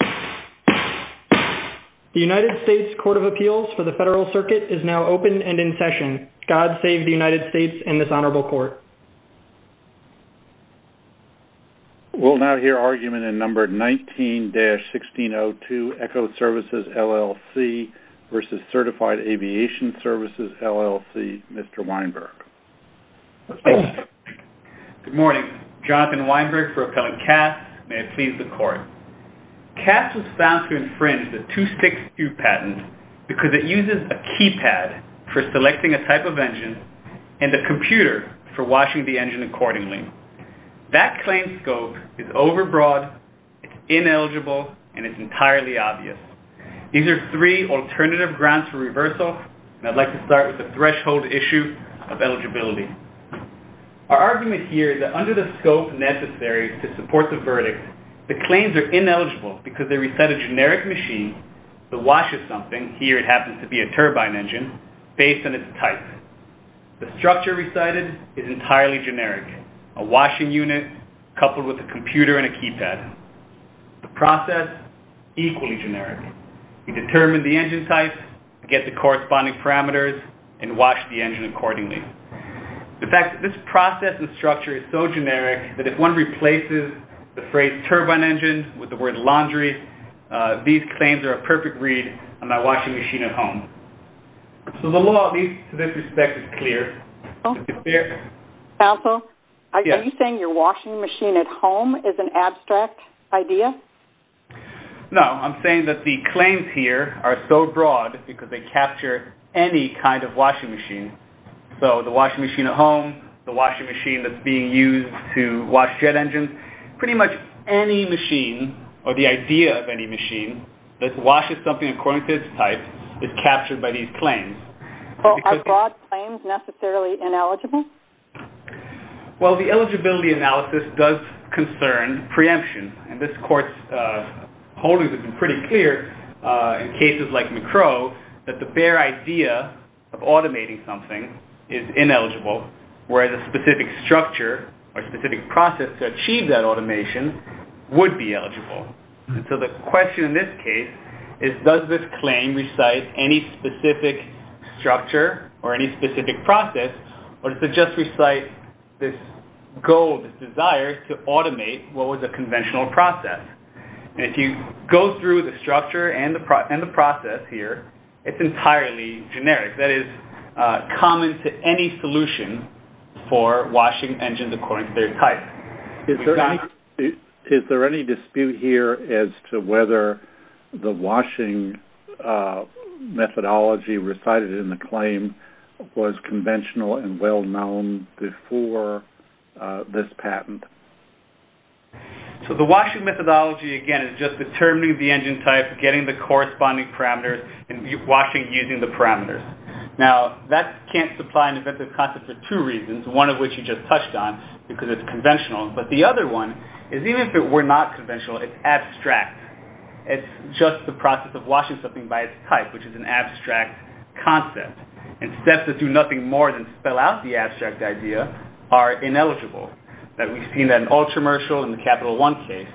The United States Court of Appeals for the Federal Circuit is now open and in session. God save the United States and this honorable court. We'll now hear argument in number 19-1602 Echo Services, LLC v. Certified Aviation Services, LLC. Mr. Weinberg. Good morning. Jonathan Weinberg for Appellant Cass. May it please the court. Cass was found to infringe the 2-6-2 patent because it uses a keypad for selecting a type of engine and a computer for watching the engine accordingly. That claim scope is overbroad, it's ineligible, and it's entirely obvious. These are three alternative grounds for reversal and I'd like to start with the threshold issue of eligibility. Our argument here is that under the scope necessary to support the verdict, the claims are ineligible because they recite a generic machine that washes something, here it happens to be a turbine engine, based on its type. The structure recited is entirely generic, a washing unit coupled with a computer and a keypad. The process, equally generic. You determine the engine type, get the corresponding parameters, and wash the engine accordingly. In fact, this process and structure is so generic that if one replaces the phrase turbine engine with the word laundry, these claims are a perfect read on my washing machine at home. So the law, at least to this respect, is clear. Counsel, are you saying your washing machine at home is an abstract idea? No, I'm saying that the claims here are so broad because they capture any kind of washing machine. So the washing machine at home, the washing machine that's being used to wash jet engines, pretty much any machine or the idea of any machine that washes something according to its type is captured by these claims. Are broad claims necessarily ineligible? Well, the eligibility analysis does concern preemption. And this court's holdings have been pretty clear in cases like McCrow that the bare idea of automating something is ineligible, whereas a specific structure or specific process to achieve that automation would be eligible. So the question in this case is does this claim recite any specific structure or any specific process, or does it just recite this goal, this desire to automate what was a conventional process? And if you go through the structure and the process here, it's entirely generic. That is common to any solution for washing engines according to their type. Is there any dispute here as to whether the washing methodology recited in the claim was conventional and well-known before this patent? So the washing methodology, again, is just determining the engine type, getting the corresponding parameters, and washing using the parameters. Now, that can't supply an inventive concept for two reasons, one of which you just touched on, because it's conventional. But the other one is even if it were not conventional, it's abstract. It's just the process of washing something by its type, which is an abstract concept. And steps that do nothing more than spell out the abstract idea are ineligible. We've seen that in Ultramershal and the Capital One case.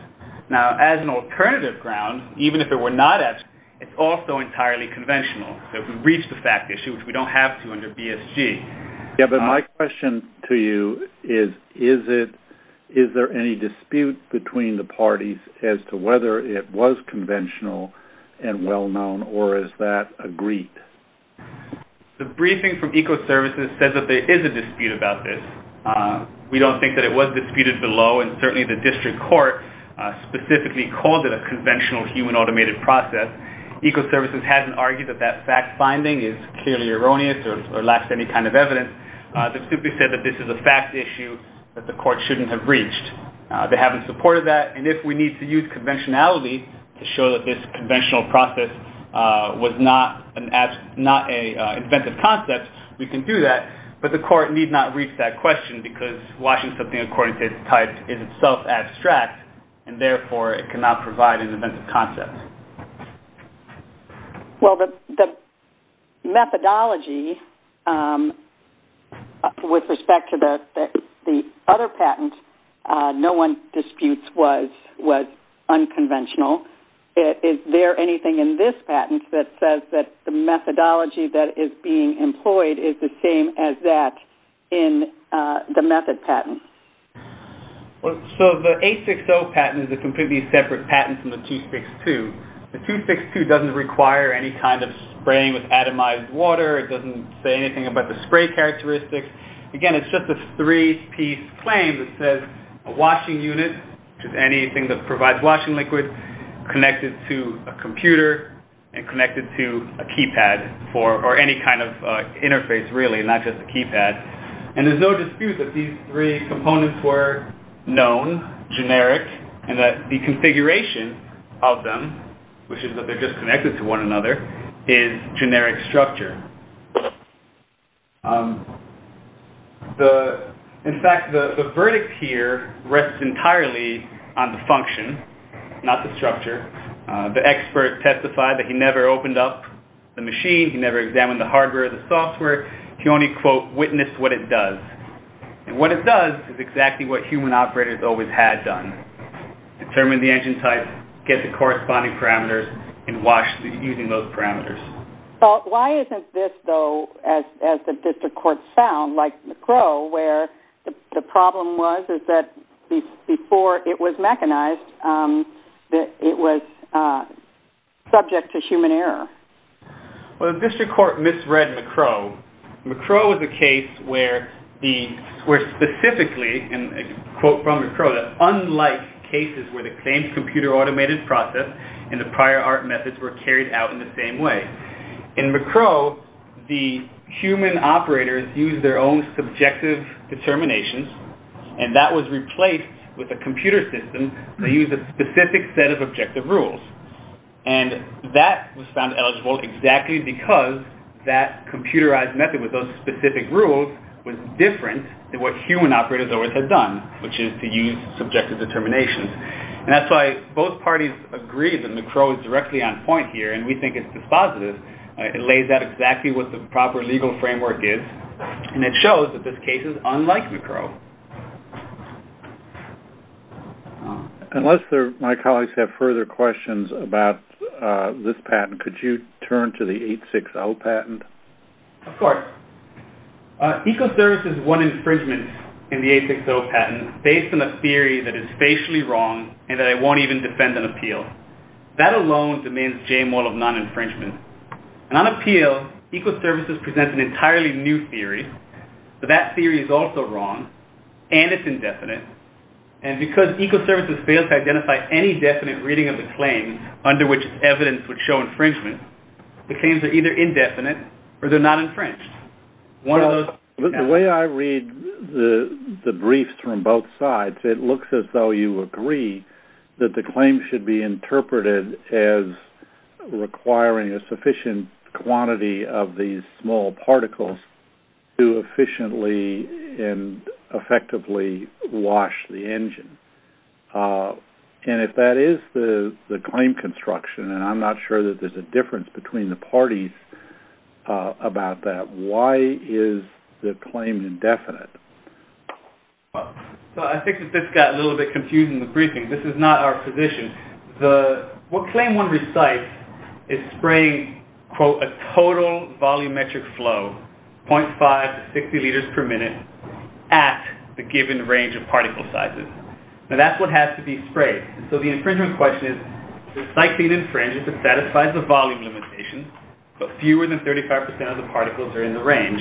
Now, as an alternative ground, even if it were not abstract, it's also entirely conventional. We've reached the fact issue, which we don't have to under BSG. Yeah, but my question to you is, is there any dispute between the parties as to whether it was conventional and well-known, or is that agreed? The briefing from Ecoservices says that there is a dispute about this. We don't think that it was disputed below, and certainly the district court specifically called it a conventional human-automated process. Ecoservices hasn't argued that that fact-finding is clearly erroneous or lacks any kind of evidence. They've simply said that this is a fact issue that the court shouldn't have reached. They haven't supported that, and if we need to use conventionality to show that this conventional process was not an inventive concept, we can do that. But the court need not reach that question, because watching something according to its type is itself abstract, and therefore it cannot provide an inventive concept. Well, the methodology with respect to the other patent no one disputes was unconventional. Is there anything in this patent that says that the methodology that is being employed is the same as that in the method patent? The 860 patent is a completely separate patent from the 262. The 262 doesn't require any kind of spraying with atomized water. It doesn't say anything about the spray characteristics. Again, it's just a three-piece claim that says a washing unit, which is anything that provides washing liquid, connected to a computer, and connected to a keypad, or any kind of interface, really, not just a keypad. And there's no dispute that these three components were known, generic, and that the configuration of them, which is that they're just connected to one another, is generic structure. In fact, the verdict here rests entirely on the function, not the structure. The expert testified that he never opened up the machine. He never examined the hardware or the software. He only, quote, witnessed what it does. And what it does is exactly what human operators always had done, determine the engine type, get the corresponding parameters, and wash using those parameters. Why isn't this, though, as the district court found, like McCrow, where the problem was is that before it was mechanized, it was subject to human error? Well, the district court misread McCrow. McCrow was a case where specifically, and a quote from McCrow, that unlike cases where the same computer-automated process and the prior art methods were carried out in the same way, in McCrow, the human operators used their own subjective determinations, and that was replaced with a computer system that used a specific set of objective rules. And that was found eligible exactly because that computerized method with those specific rules was different than what human operators always had done, which is to use subjective determinations. And that's why both parties agree that McCrow is directly on point here, and we think it's dispositive. It lays out exactly what the proper legal framework is, and it shows that this case is unlike McCrow. Unless my colleagues have further questions about this patent, could you turn to the 860 patent? Of course. Ecoservices won infringement in the 860 patent based on a theory that is facially wrong and that it won't even defend an appeal. That alone demands J-MOL of non-infringement. And on appeal, Ecoservices presents an entirely new theory, but that theory is also wrong and it's indefinite. And because Ecoservices fails to identify any definite reading of the claim under which evidence would show infringement, the claims are either indefinite or they're not infringed. The way I read the briefs from both sides, it looks as though you agree that the claim should be interpreted as requiring a sufficient quantity of these small particles to efficiently and effectively wash the engine. And if that is the claim construction, and I'm not sure that there's a difference between the parties about that, why is the claim indefinite? So I think that this got a little bit confused in the briefing. This is not our position. What claim one recites is spraying, quote, a total volumetric flow, 0.5 to 60 liters per minute, at the given range of particle sizes. And that's what has to be sprayed. So the infringement question is, does cycling infringe if it satisfies the volume limitation, but fewer than 35% of the particles are in the range?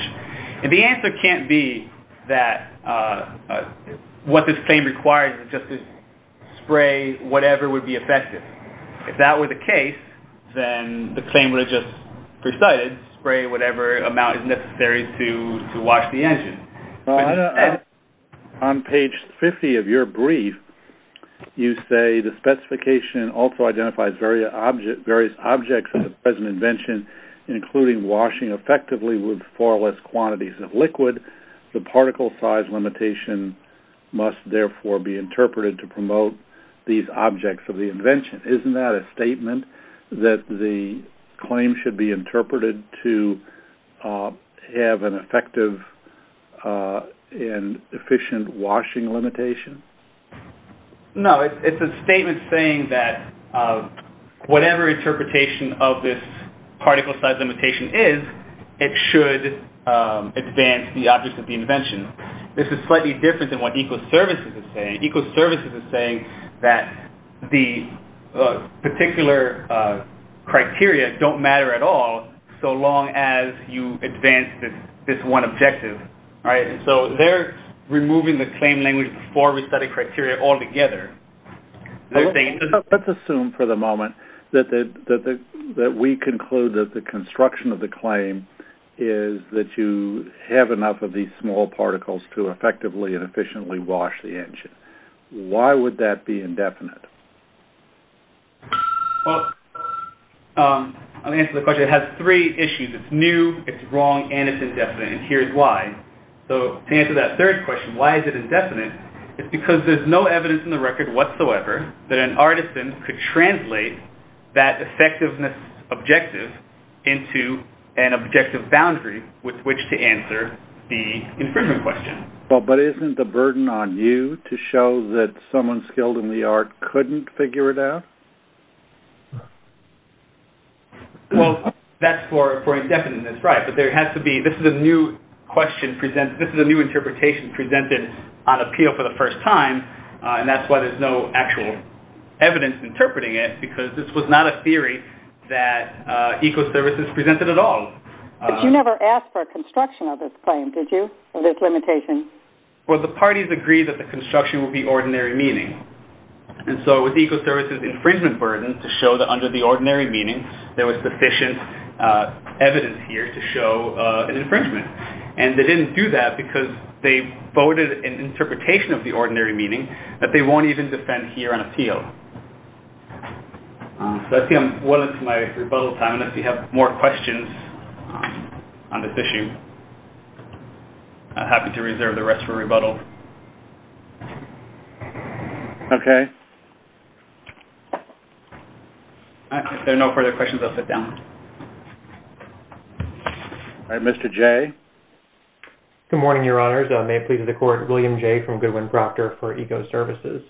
And the answer can't be that what this claim requires is just to spray whatever would be effective. If that were the case, then the claim would have just recited, spray whatever amount is necessary to wash the engine. On page 50 of your brief, you say the specification also identifies various objects of the present invention, including washing effectively with far less quantities of liquid. The particle size limitation must therefore be interpreted to promote these objects of the invention. Isn't that a statement that the claim should be interpreted to have an effective and efficient washing limitation? No, it's a statement saying that whatever interpretation of this particle size limitation is, it should advance the objects of the invention. This is slightly different than what Ecoservices is saying. Ecoservices is saying that the particular criteria don't matter at all so long as you advance this one objective, right? So they're removing the claim language before we study criteria altogether. Let's assume for the moment that we conclude that the construction of the claim is that you have enough of these small particles to effectively and efficiently wash the engine. Why would that be indefinite? Well, I'll answer the question. It has three issues. It's new, it's wrong, and it's indefinite. And here's why. To answer that third question, why is it indefinite, it's because there's no evidence in the record whatsoever that an artisan could translate that effectiveness objective into an objective boundary with which to answer the infringement question. But isn't the burden on you to show that someone skilled in the art couldn't figure it out? Well, that's for indefinite, that's right. But there has to be, this is a new question, this is a new interpretation presented on appeal for the first time. And that's why there's no actual evidence interpreting it because this was not a theory that Ecoservices presented at all. But you never asked for a construction of this claim, did you, of this limitation? Well, the parties agreed that the construction would be ordinary meaning. And so it was Ecoservices' infringement burden to show that under the ordinary meaning there was sufficient evidence here to show an infringement. And they didn't do that because they voted an interpretation of the ordinary meaning that they won't even defend here on appeal. So I see I'm well into my rebuttal time. And if you have more questions on this issue, I'm happy to reserve the rest for rebuttal. Okay. If there are no further questions, I'll sit down. All right, Mr. Jay. Good morning, Your Honors. May it please the Court, William Jay from Goodwin Proctor for Ecoservices.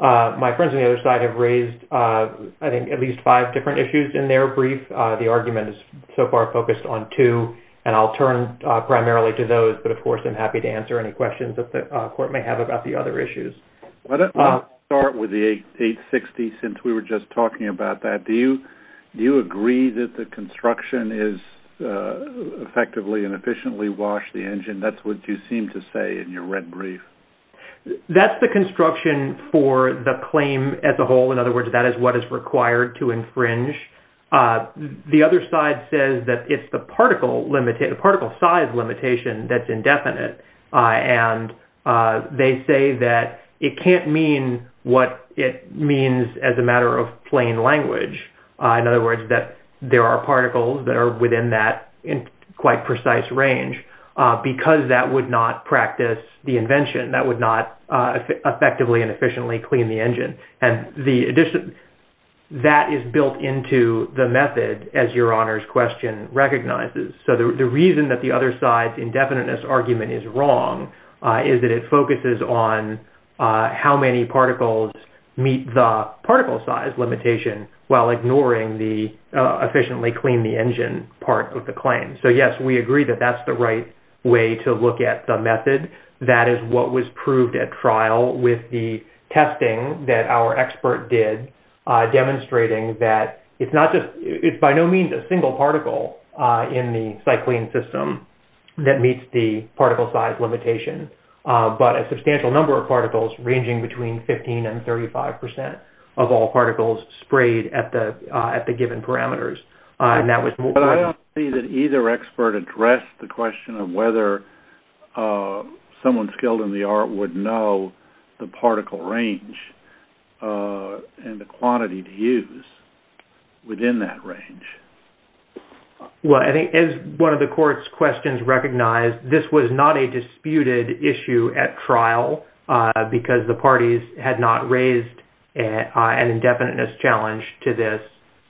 My friends on the other side have raised, I think, at least five different issues in their brief. The argument is so far focused on two, and I'll turn primarily to those. But, of course, I'm happy to answer any questions that the Court may have about the other issues. Let's start with the 860 since we were just talking about that. Do you agree that the construction is effectively and efficiently washed the engine? That's what you seem to say in your red brief. That's the construction for the claim as a whole. In other words, that is what is required to infringe. The other side says that it's the particle size limitation that's indefinite. And they say that it can't mean what it means as a matter of plain language. In other words, that there are particles that are within that quite precise range because that would not practice the invention. That would not effectively and efficiently clean the engine. And that is built into the method, as Your Honor's question recognizes. So the reason that the other side's indefiniteness argument is wrong is that it focuses on how many particles meet the particle size limitation, while ignoring the efficiently clean the engine part of the claim. So, yes, we agree that that's the right way to look at the method. That is what was proved at trial with the testing that our expert did, demonstrating that it's by no means a single particle in the Cyclene system that meets the particle size limitation. But a substantial number of particles ranging between 15% and 35% of all particles sprayed at the given parameters. And that was- But I don't see that either expert addressed the question of whether someone skilled in the art would know the particle range and the quantity to use within that range. Well, I think as one of the court's questions recognized, this was not a disputed issue at trial because the parties had not raised an indefiniteness challenge to this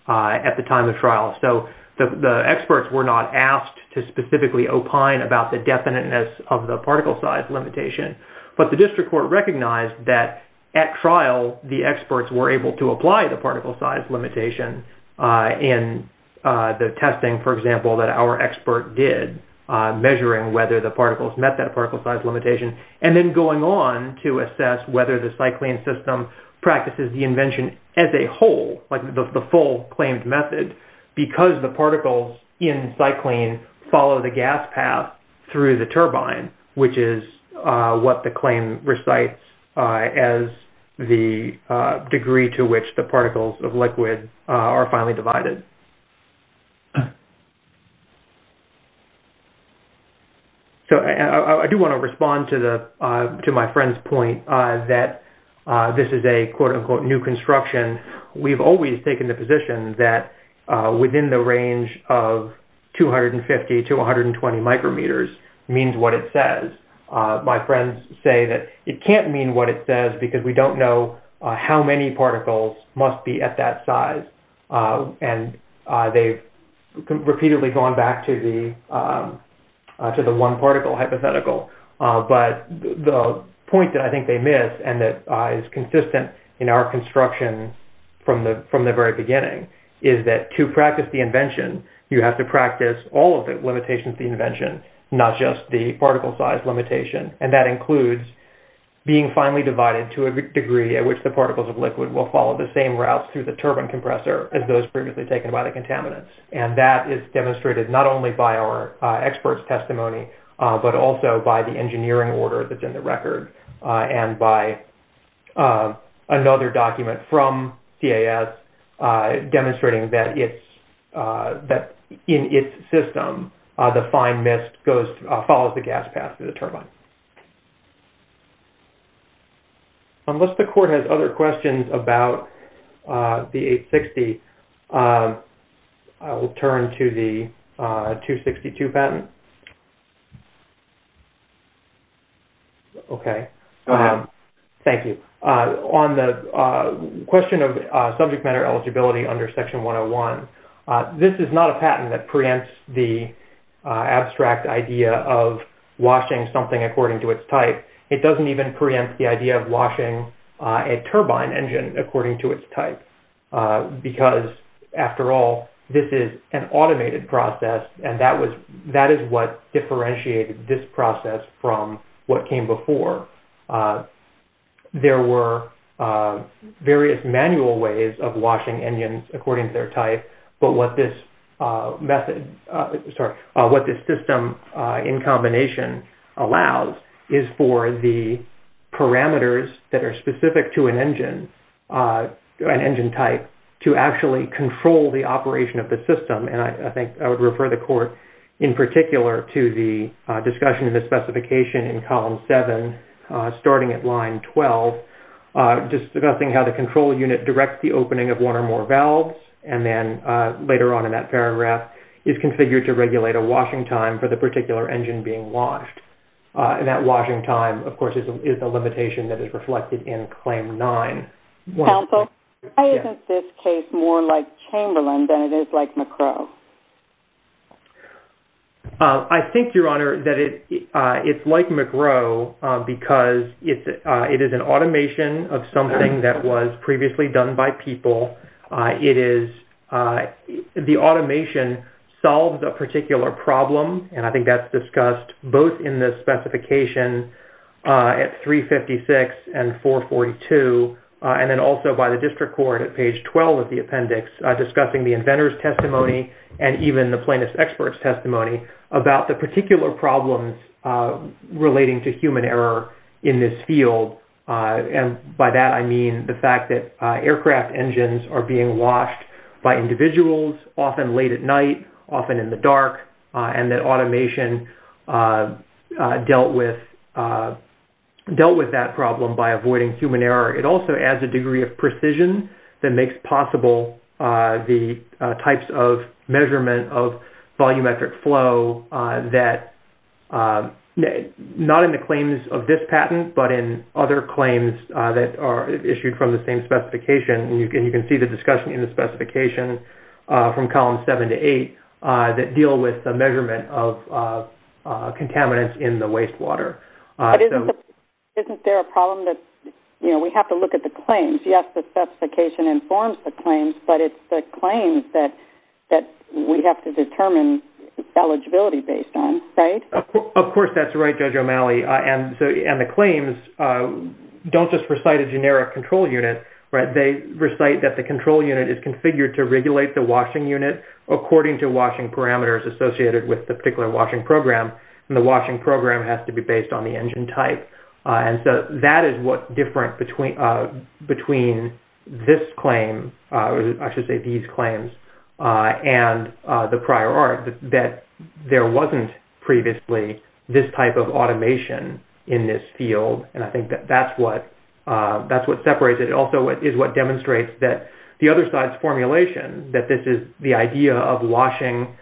at the time of trial. So the experts were not asked to specifically opine about the definiteness of the particle size limitation. But the district court recognized that at trial, the experts were able to apply the particle size limitation in the testing, for example, that our expert did, measuring whether the particles met that particle size limitation, and then going on to assess whether the Cyclene system practices the invention as a whole, like the full claimed method, because the particles in Cyclene follow the gas path through the turbine, which is what the claim recites as the degree to which the particles of liquid are finally divided. So I do want to respond to my friend's point that this is a quote-unquote new construction. We've always taken the position that within the range of 250 to 120 micrometers means what it says. My friends say that it can't mean what it says because we don't know how many particles must be at that size. And they've repeatedly gone back to the one particle hypothetical. But the point that I think they miss, and that is consistent in our construction from the very beginning, is that to practice the invention, you have to practice all of the limitations of the invention, not just the particle size limitation. And that includes being finally divided to a degree at which the particles of liquid will follow the same route through the turbine compressor as those previously taken by the contaminants. And that is demonstrated not only by our experts' testimony, but also by the engineering order that's in the record and by another document from CAS demonstrating that in its system, the fine mist follows the gas path through the turbine. Unless the court has other questions about the 860, I will turn to the 262 patent. Okay. Go ahead. Thank you. On the question of subject matter eligibility under Section 101, this is not a patent that preempts the abstract idea of washing something according to its type. It doesn't even preempt the idea of washing a turbine engine according to its type because, after all, this is an automated process, and that is what differentiated this process from what came before. There were various manual ways of washing engines according to their type, but what this system in combination allows is for the parameters that are specific to an engine, an engine type, to actually control the operation of the system. And I think I would refer the court, in particular, to the discussion of the specification in Column 7, starting at Line 12, discussing how the control unit directs the opening of one or more valves, and then later on in that paragraph, is configured to regulate a washing time for the particular engine being washed. And that washing time, of course, is a limitation that is reflected in Claim 9. Counsel, why isn't this case more like Chamberlain than it is like McGrow? I think, Your Honor, that it's like McGrow because it is an automation of something that was previously done by people. The automation solves a particular problem, and I think that's discussed both in the specification at 356 and 442, and then also by the District Court at page 12 of the appendix, discussing the inventor's testimony and even the plaintiff's expert's testimony about the particular problems relating to human error in this field. And by that, I mean the fact that aircraft engines are being washed by individuals, often late at night, often in the dark, and that automation dealt with that problem by avoiding human error. It also adds a degree of precision that makes possible the types of measurement of volumetric flow that, not in the claims of this patent, but in other claims that are issued from the same specification, and you can see the discussion in the specification from columns 7 to 8, that deal with the measurement of contaminants in the wastewater. But isn't there a problem that we have to look at the claims? Yes, the specification informs the claims, but it's the claims that we have to determine eligibility based on, right? Of course that's right, Judge O'Malley, and the claims don't just recite a generic control unit. They recite that the control unit is configured to regulate the washing unit according to washing parameters associated with the particular washing program, and the washing program has to be based on the engine type. And so that is what's different between this claim, I should say these claims, and the prior art, that there wasn't previously this type of automation in this field, and I think that that's what separates it. It also is what demonstrates that the other side's formulation, that this is the idea of washing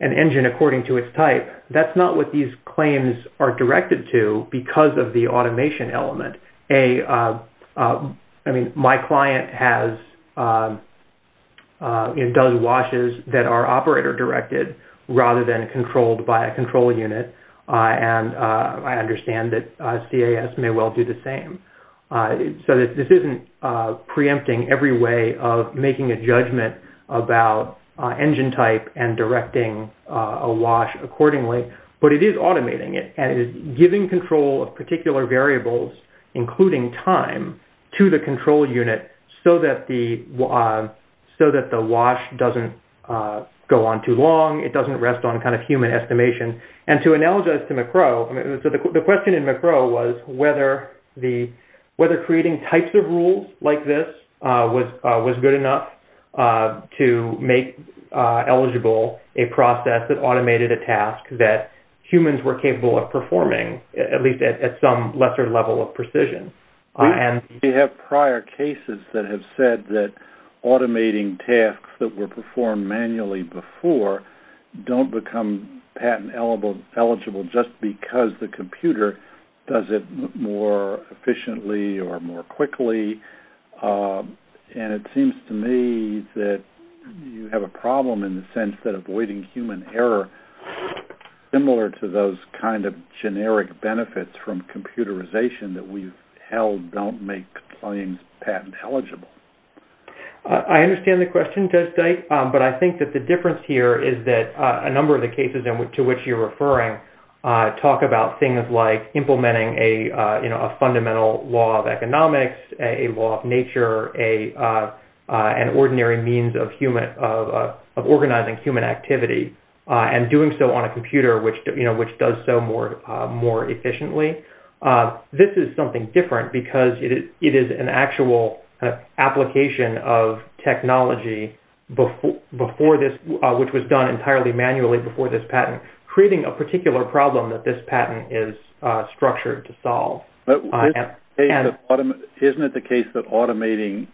an engine according to its type. That's not what these claims are directed to because of the automation element. A, I mean, my client does washes that are operator directed rather than controlled by a control unit, and I understand that CAS may well do the same. So this isn't preempting every way of making a judgment about engine type and directing a wash accordingly, but it is automating it, and it is giving control of particular variables, including time, to the control unit so that the wash doesn't go on too long, it doesn't rest on kind of human estimation. And to analogize to McCrow, the question in McCrow was whether creating types of rules like this was good enough to make eligible a process that automated a task that humans were capable of performing, at least at some lesser level of precision. We have prior cases that have said that automating tasks that were performed manually before don't become patent eligible just because the computer does it more efficiently or more quickly, and it seems to me that you have a problem in the sense that avoiding human error, similar to those kind of generic benefits from computerization that we've held, don't make claims patent eligible. I understand the question, but I think that the difference here is that a number of the cases to which you're referring talk about things like implementing a fundamental law of economics, a law of nature, an ordinary means of organizing human activity, and doing so on a computer which does so more efficiently. This is something different because it is an actual application of technology which was done entirely manually before this patent, creating a particular problem that this patent is structured to solve. Isn't it the case that automating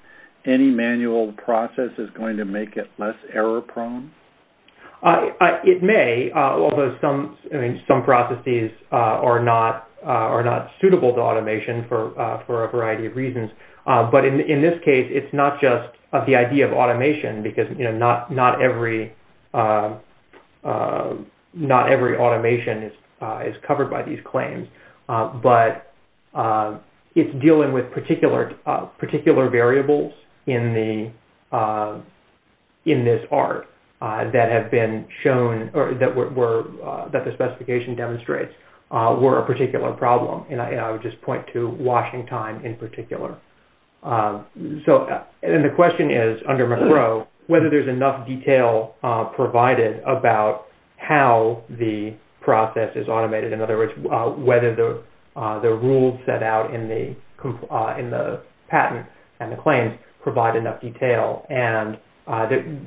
any manual process is going to make it less error prone? It may, although some processes are not suitable to automation for a variety of reasons, but in this case it's not just the idea of automation because not every automation is covered by these claims, but it's dealing with particular variables in this art that have been shown, that the specification demonstrates were a particular problem, and I would just point to Washington in particular. And the question is, under McRow, whether there's enough detail provided about how the process is automated, in other words, whether the rules set out in the patent and the claims provide enough detail. And the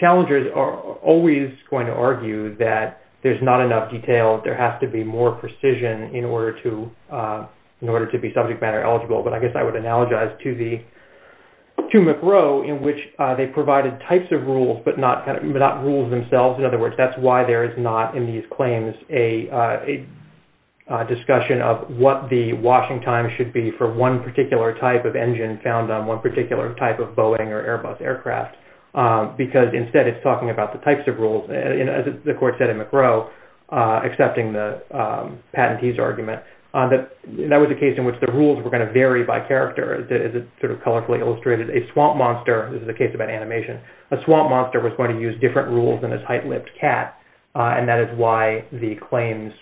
challengers are always going to argue that there's not enough detail, there has to be more precision in order to be subject matter eligible, but I guess I would analogize to McRow in which they provided types of rules but not rules themselves. In other words, that's why there is not in these claims a discussion of what the washing time should be for one particular type of engine found on one particular type of Boeing or Airbus aircraft, because instead it's talking about the types of rules. As the court said in McRow, accepting the patentee's argument, that was a case in which the rules were going to vary by character. As it sort of colorfully illustrated, a swamp monster, this is a case about animation, a swamp monster was going to use different rules than a tight-lipped cat, and that is why the claims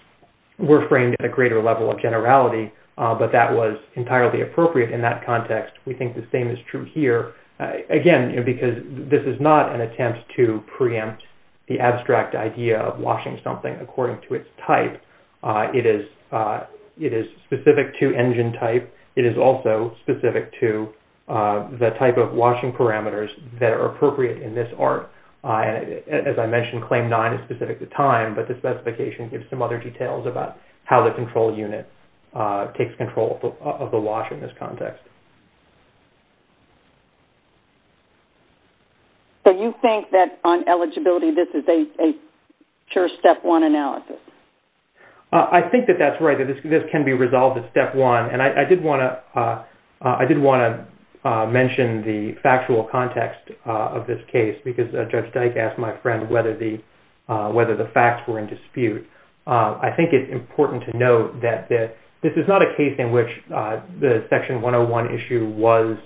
were framed at a greater level of generality, but that was entirely appropriate in that context. We think the same is true here. Again, because this is not an attempt to preempt the abstract idea of washing something according to its type. It is specific to engine type. It is also specific to the type of washing parameters that are appropriate in this art. As I mentioned, Claim 9 is specific to time, but the specification gives some other details about how the control unit takes control of the wash in this context. So you think that on eligibility this is a pure Step 1 analysis? I think that that's right. I think that this can be resolved as Step 1, and I did want to mention the factual context of this case, because Judge Dyke asked my friend whether the facts were in dispute. I think it's important to note that this is not a case in which the Section 101 issue was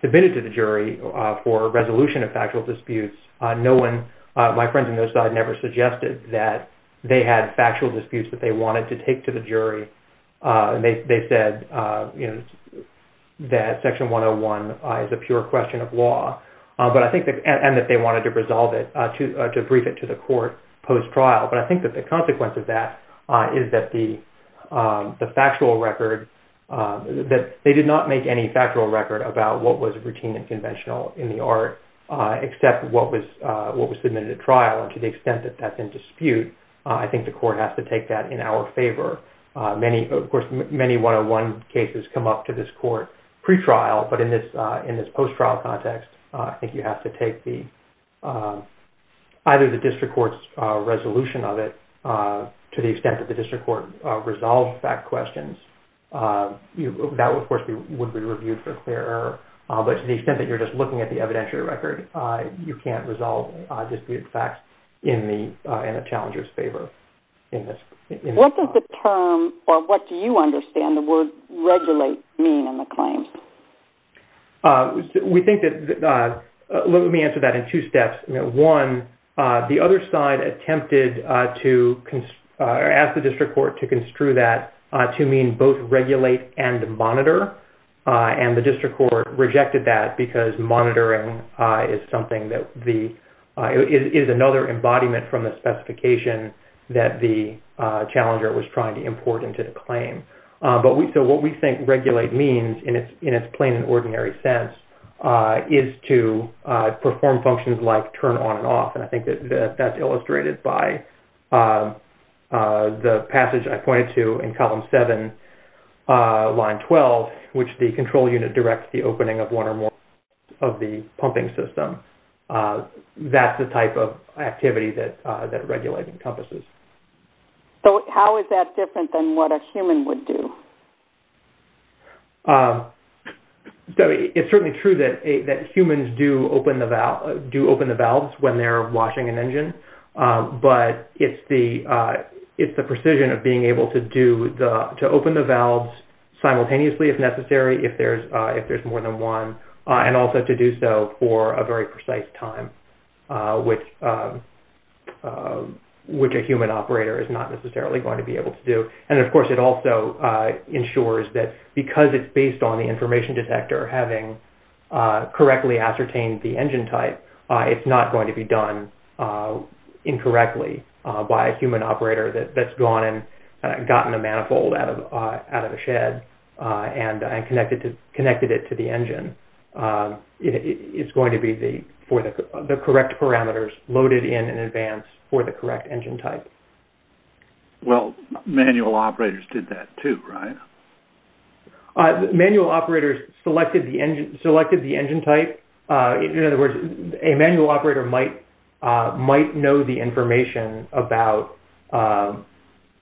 submitted to the jury for resolution of factual disputes. My friend on the other side never suggested that they had factual disputes that they wanted to take to the jury. They said that Section 101 is a pure question of law, and that they wanted to resolve it to brief it to the court post-trial. But I think that the consequence of that is that they did not make any factual record about what was routine and conventional in the art, except what was submitted at trial, and to the extent that that's in dispute, I think the court has to take that in our favor. Of course, many 101 cases come up to this court pre-trial, but in this post-trial context, I think you have to take either the district court's resolution of it, to the extent that the district court resolves that question. That, of course, would be reviewed for clear error. But to the extent that you're just looking at the evidentiary record, you can't resolve disputed facts in a challenger's favor. What does the term, or what do you understand, the word regulate mean in the claim? Let me answer that in two steps. One, the other side attempted to ask the district court to construe that to mean both regulate and monitor, and the district court rejected that, because monitoring is another embodiment from the specification that the challenger was trying to import into the claim. What we think regulate means, in its plain and ordinary sense, is to perform functions like turn on and off. I think that's illustrated by the passage I pointed to in column 7, line 12, which the control unit directs the opening of one or more of the pumping system. That's the type of activity that regulate encompasses. How is that different than what a human would do? It's certainly true that humans do open the valves when they're washing an engine, but it's the precision of being able to open the valves simultaneously, if necessary, if there's more than one, and also to do so for a very precise time, which a human operator is not necessarily going to be able to do. Of course, it also ensures that, because it's based on the information detector having correctly ascertained the engine type, it's not going to be done incorrectly by a human operator that's gone and gotten a manifold out of a shed and connected it to the engine. It's going to be for the correct parameters loaded in in advance for the correct engine type. Well, manual operators did that too, right? Manual operators selected the engine type. In other words, a manual operator might know the information about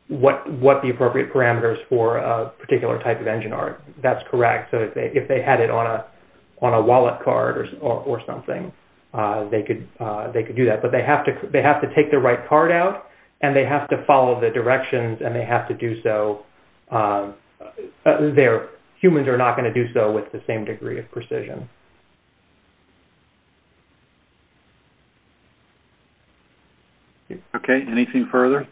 what the appropriate parameters for a particular type of engine are. That's correct. If they had it on a wallet card or something, they could do that, but they have to take the right card out, and they have to follow the directions, and they have to do so. Humans are not going to do so with the same degree of precision. That's correct. Okay. Anything further?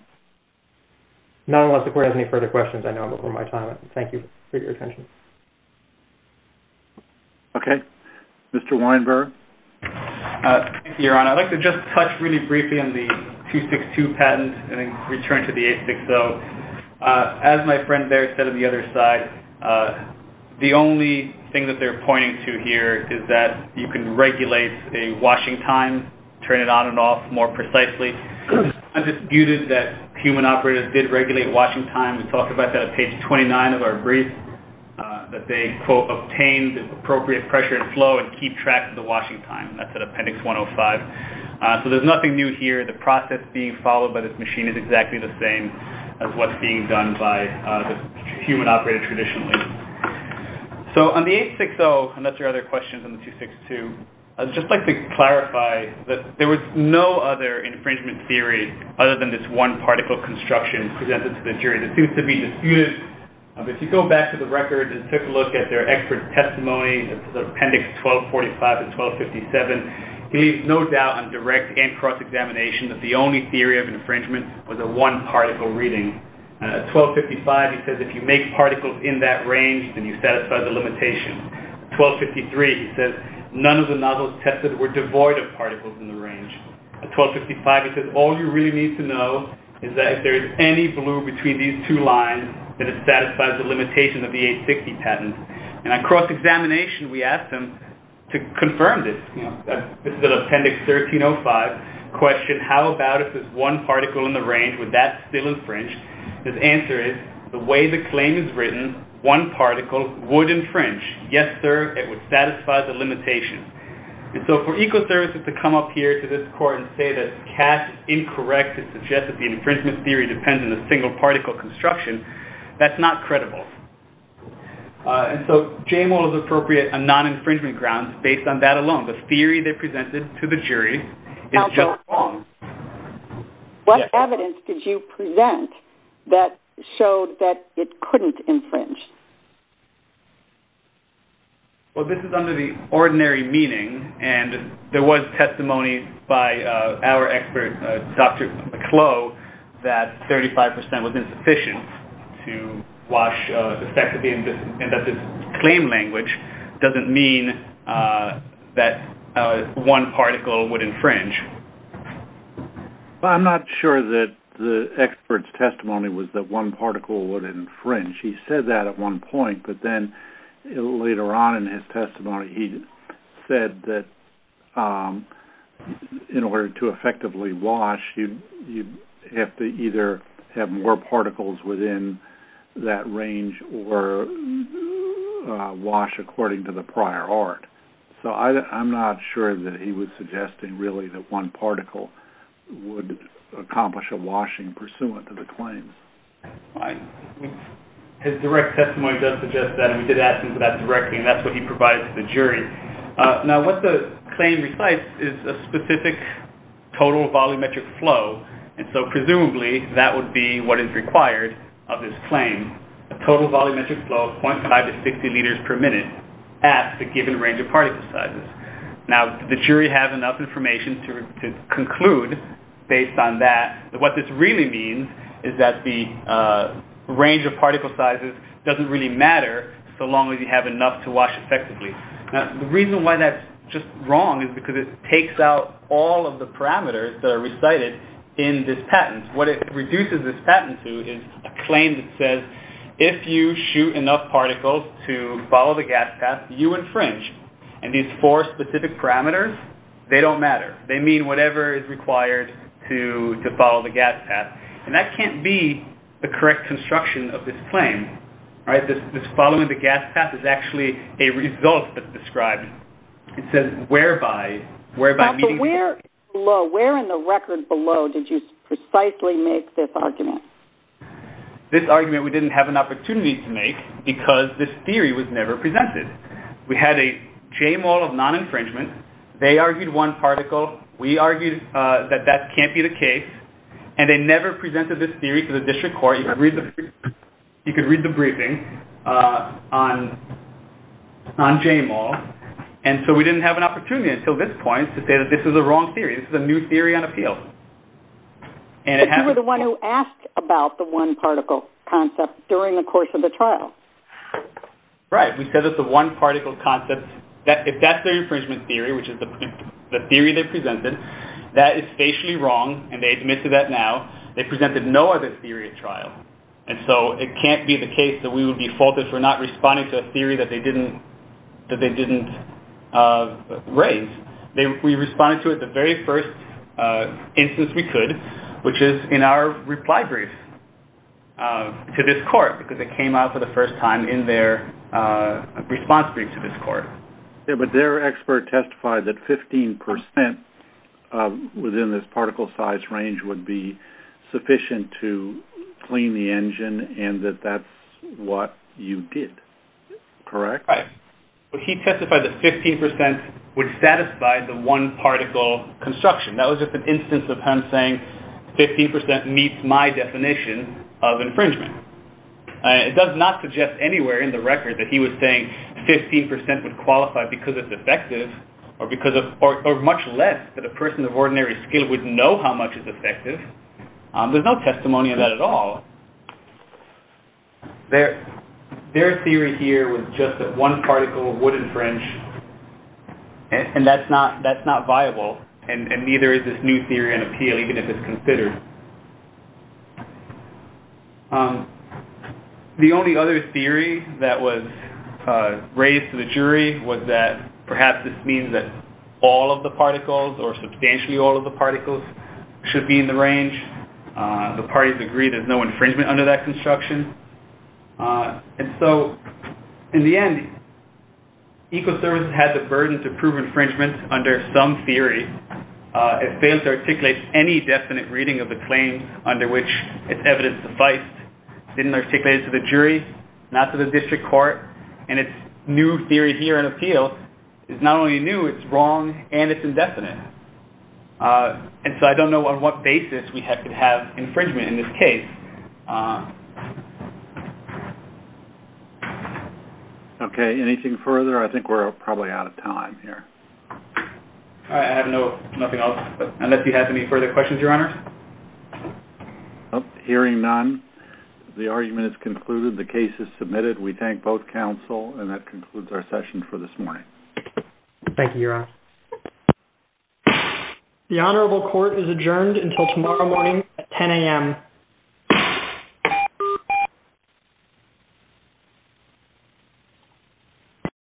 Not unless the court has any further questions, I know, before my time. Thank you for your attention. Okay. Mr. Weinberg? Thank you, Your Honor. I'd like to just touch really briefly on the 262 patent and then return to the 860. As my friend there said on the other side, the only thing that they're pointing to here is that you can regulate a washing time, turn it on and off more precisely. It's disputed that human operators did regulate washing time. We talked about that on page 29 of our brief, that they, quote, obtained appropriate pressure and flow and keep track of the washing time. That's at Appendix 105. So there's nothing new here. The process being followed by this machine is exactly the same as what's being done by the human operator traditionally. So on the 860, and that's your other question on the 262, I'd just like to clarify that there was no other infringement theory other than this one-particle construction presented to the jury. It seems to be disputed. If you go back to the record and take a look at their expert testimony, that's Appendix 1245 to 1257, you leave no doubt on direct and cross-examination that the only theory of infringement was a one-particle reading. 1255, he says, if you make particles in that range, then you satisfy the limitation. 1253, he says, none of the nozzles tested were devoid of particles in the range. 1255, he says, all you really need to know is that if there is any blue between these two lines, then it satisfies the limitation of the 860 patent. And at cross-examination, we asked him to confirm this. Question, how about if there's one particle in the range, would that still infringe? His answer is, the way the claim is written, one particle would infringe. Yes, sir, it would satisfy the limitation. And so for Ecoservices to come up here to this court and say that Cash is incorrect and suggests that the infringement theory depends on a single-particle construction, that's not credible. And so Jaymole is appropriate on non-infringement grounds based on that alone. The theory they presented to the jury is just wrong. What evidence did you present that showed that it couldn't infringe? Well, this is under the ordinary meaning, and there was testimony by our expert, Dr. McClough, that 35% was insufficient to wash the fact that this claim language doesn't mean that one particle would infringe. I'm not sure that the expert's testimony was that one particle would infringe. He said that at one point, but then later on in his testimony, he said that in order to effectively wash, you have to either have more particles within that range or wash according to the prior art. So I'm not sure that he was suggesting, really, that one particle would accomplish a washing pursuant to the claims. His direct testimony does suggest that, and we did ask him for that directly, and that's what he provided to the jury. Now, what the claim recites is a specific total volumetric flow, and so presumably, that would be what is required of this claim, a total volumetric flow of 0.5 to 60 liters per minute at the given range of particle sizes. Now, the jury has enough information to conclude, based on that, that what this really means is that the range of particle sizes doesn't really matter so long as you have enough to wash effectively. Now, the reason why that's just wrong is because it takes out all of the parameters that are recited in this patent. What it reduces this patent to is a claim that says, if you shoot enough particles to follow the gas path, you infringe, and these four specific parameters, they don't matter. They mean whatever is required to follow the gas path, and that can't be the correct construction of this claim. This following the gas path is actually a result that's described. It says, whereby... Where in the record below did you precisely make this argument? This argument we didn't have an opportunity to make because this theory was never presented. We had a J-Mall of non-infringement. They argued one particle. We argued that that can't be the case, and they never presented this theory to the district court. You could read the briefing on J-Mall, and so we didn't have an opportunity until this point to say that this is a wrong theory. This is a new theory on appeals. But you were the one who asked about the one-particle concept during the course of the trial. Right. We said it's a one-particle concept. If that's their infringement theory, which is the theory they presented, that is facially wrong, and they admit to that now. They presented no other theory at trial, and so it can't be the case that we would be faulted for not responding to a theory that they didn't raise. We responded to it the very first instance we could, which is in our reply brief to this court because it came out for the first time in their response brief to this court. But their expert testified that 15 percent within this particle size range would be sufficient to clean the engine and that that's what you did, correct? Right. But he testified that 15 percent would satisfy the one-particle construction. That was just an instance of him saying 15 percent meets my definition of infringement. It does not suggest anywhere in the record that he was saying 15 percent would qualify because it's effective or much less that a person of ordinary skill would know how much is effective. There's no testimony of that at all. Their theory here was just that one particle would infringe, and that's not viable, and neither is this new theory in appeal, even if it's considered. The only other theory that was raised to the jury was that perhaps this means that all of the particles or substantially all of the particles should be in the range. The parties agreed there's no infringement under that construction. And so, in the end, Ecoservices had the burden to prove infringement under some theory. It failed to articulate any definite reading of the claim under which its evidence sufficed. It didn't articulate it to the jury, not to the district court, and its new theory here in appeal is not only new, it's wrong, and it's indefinite. And so I don't know on what basis we could have infringement in this case. Okay, anything further? I think we're probably out of time here. I have nothing else, unless you have any further questions, Your Honor. Hearing none, the argument is concluded. The case is submitted. We thank both counsel, and that concludes our session for this morning. Thank you, Your Honor. The Honorable Court is adjourned until tomorrow morning at 10 a.m.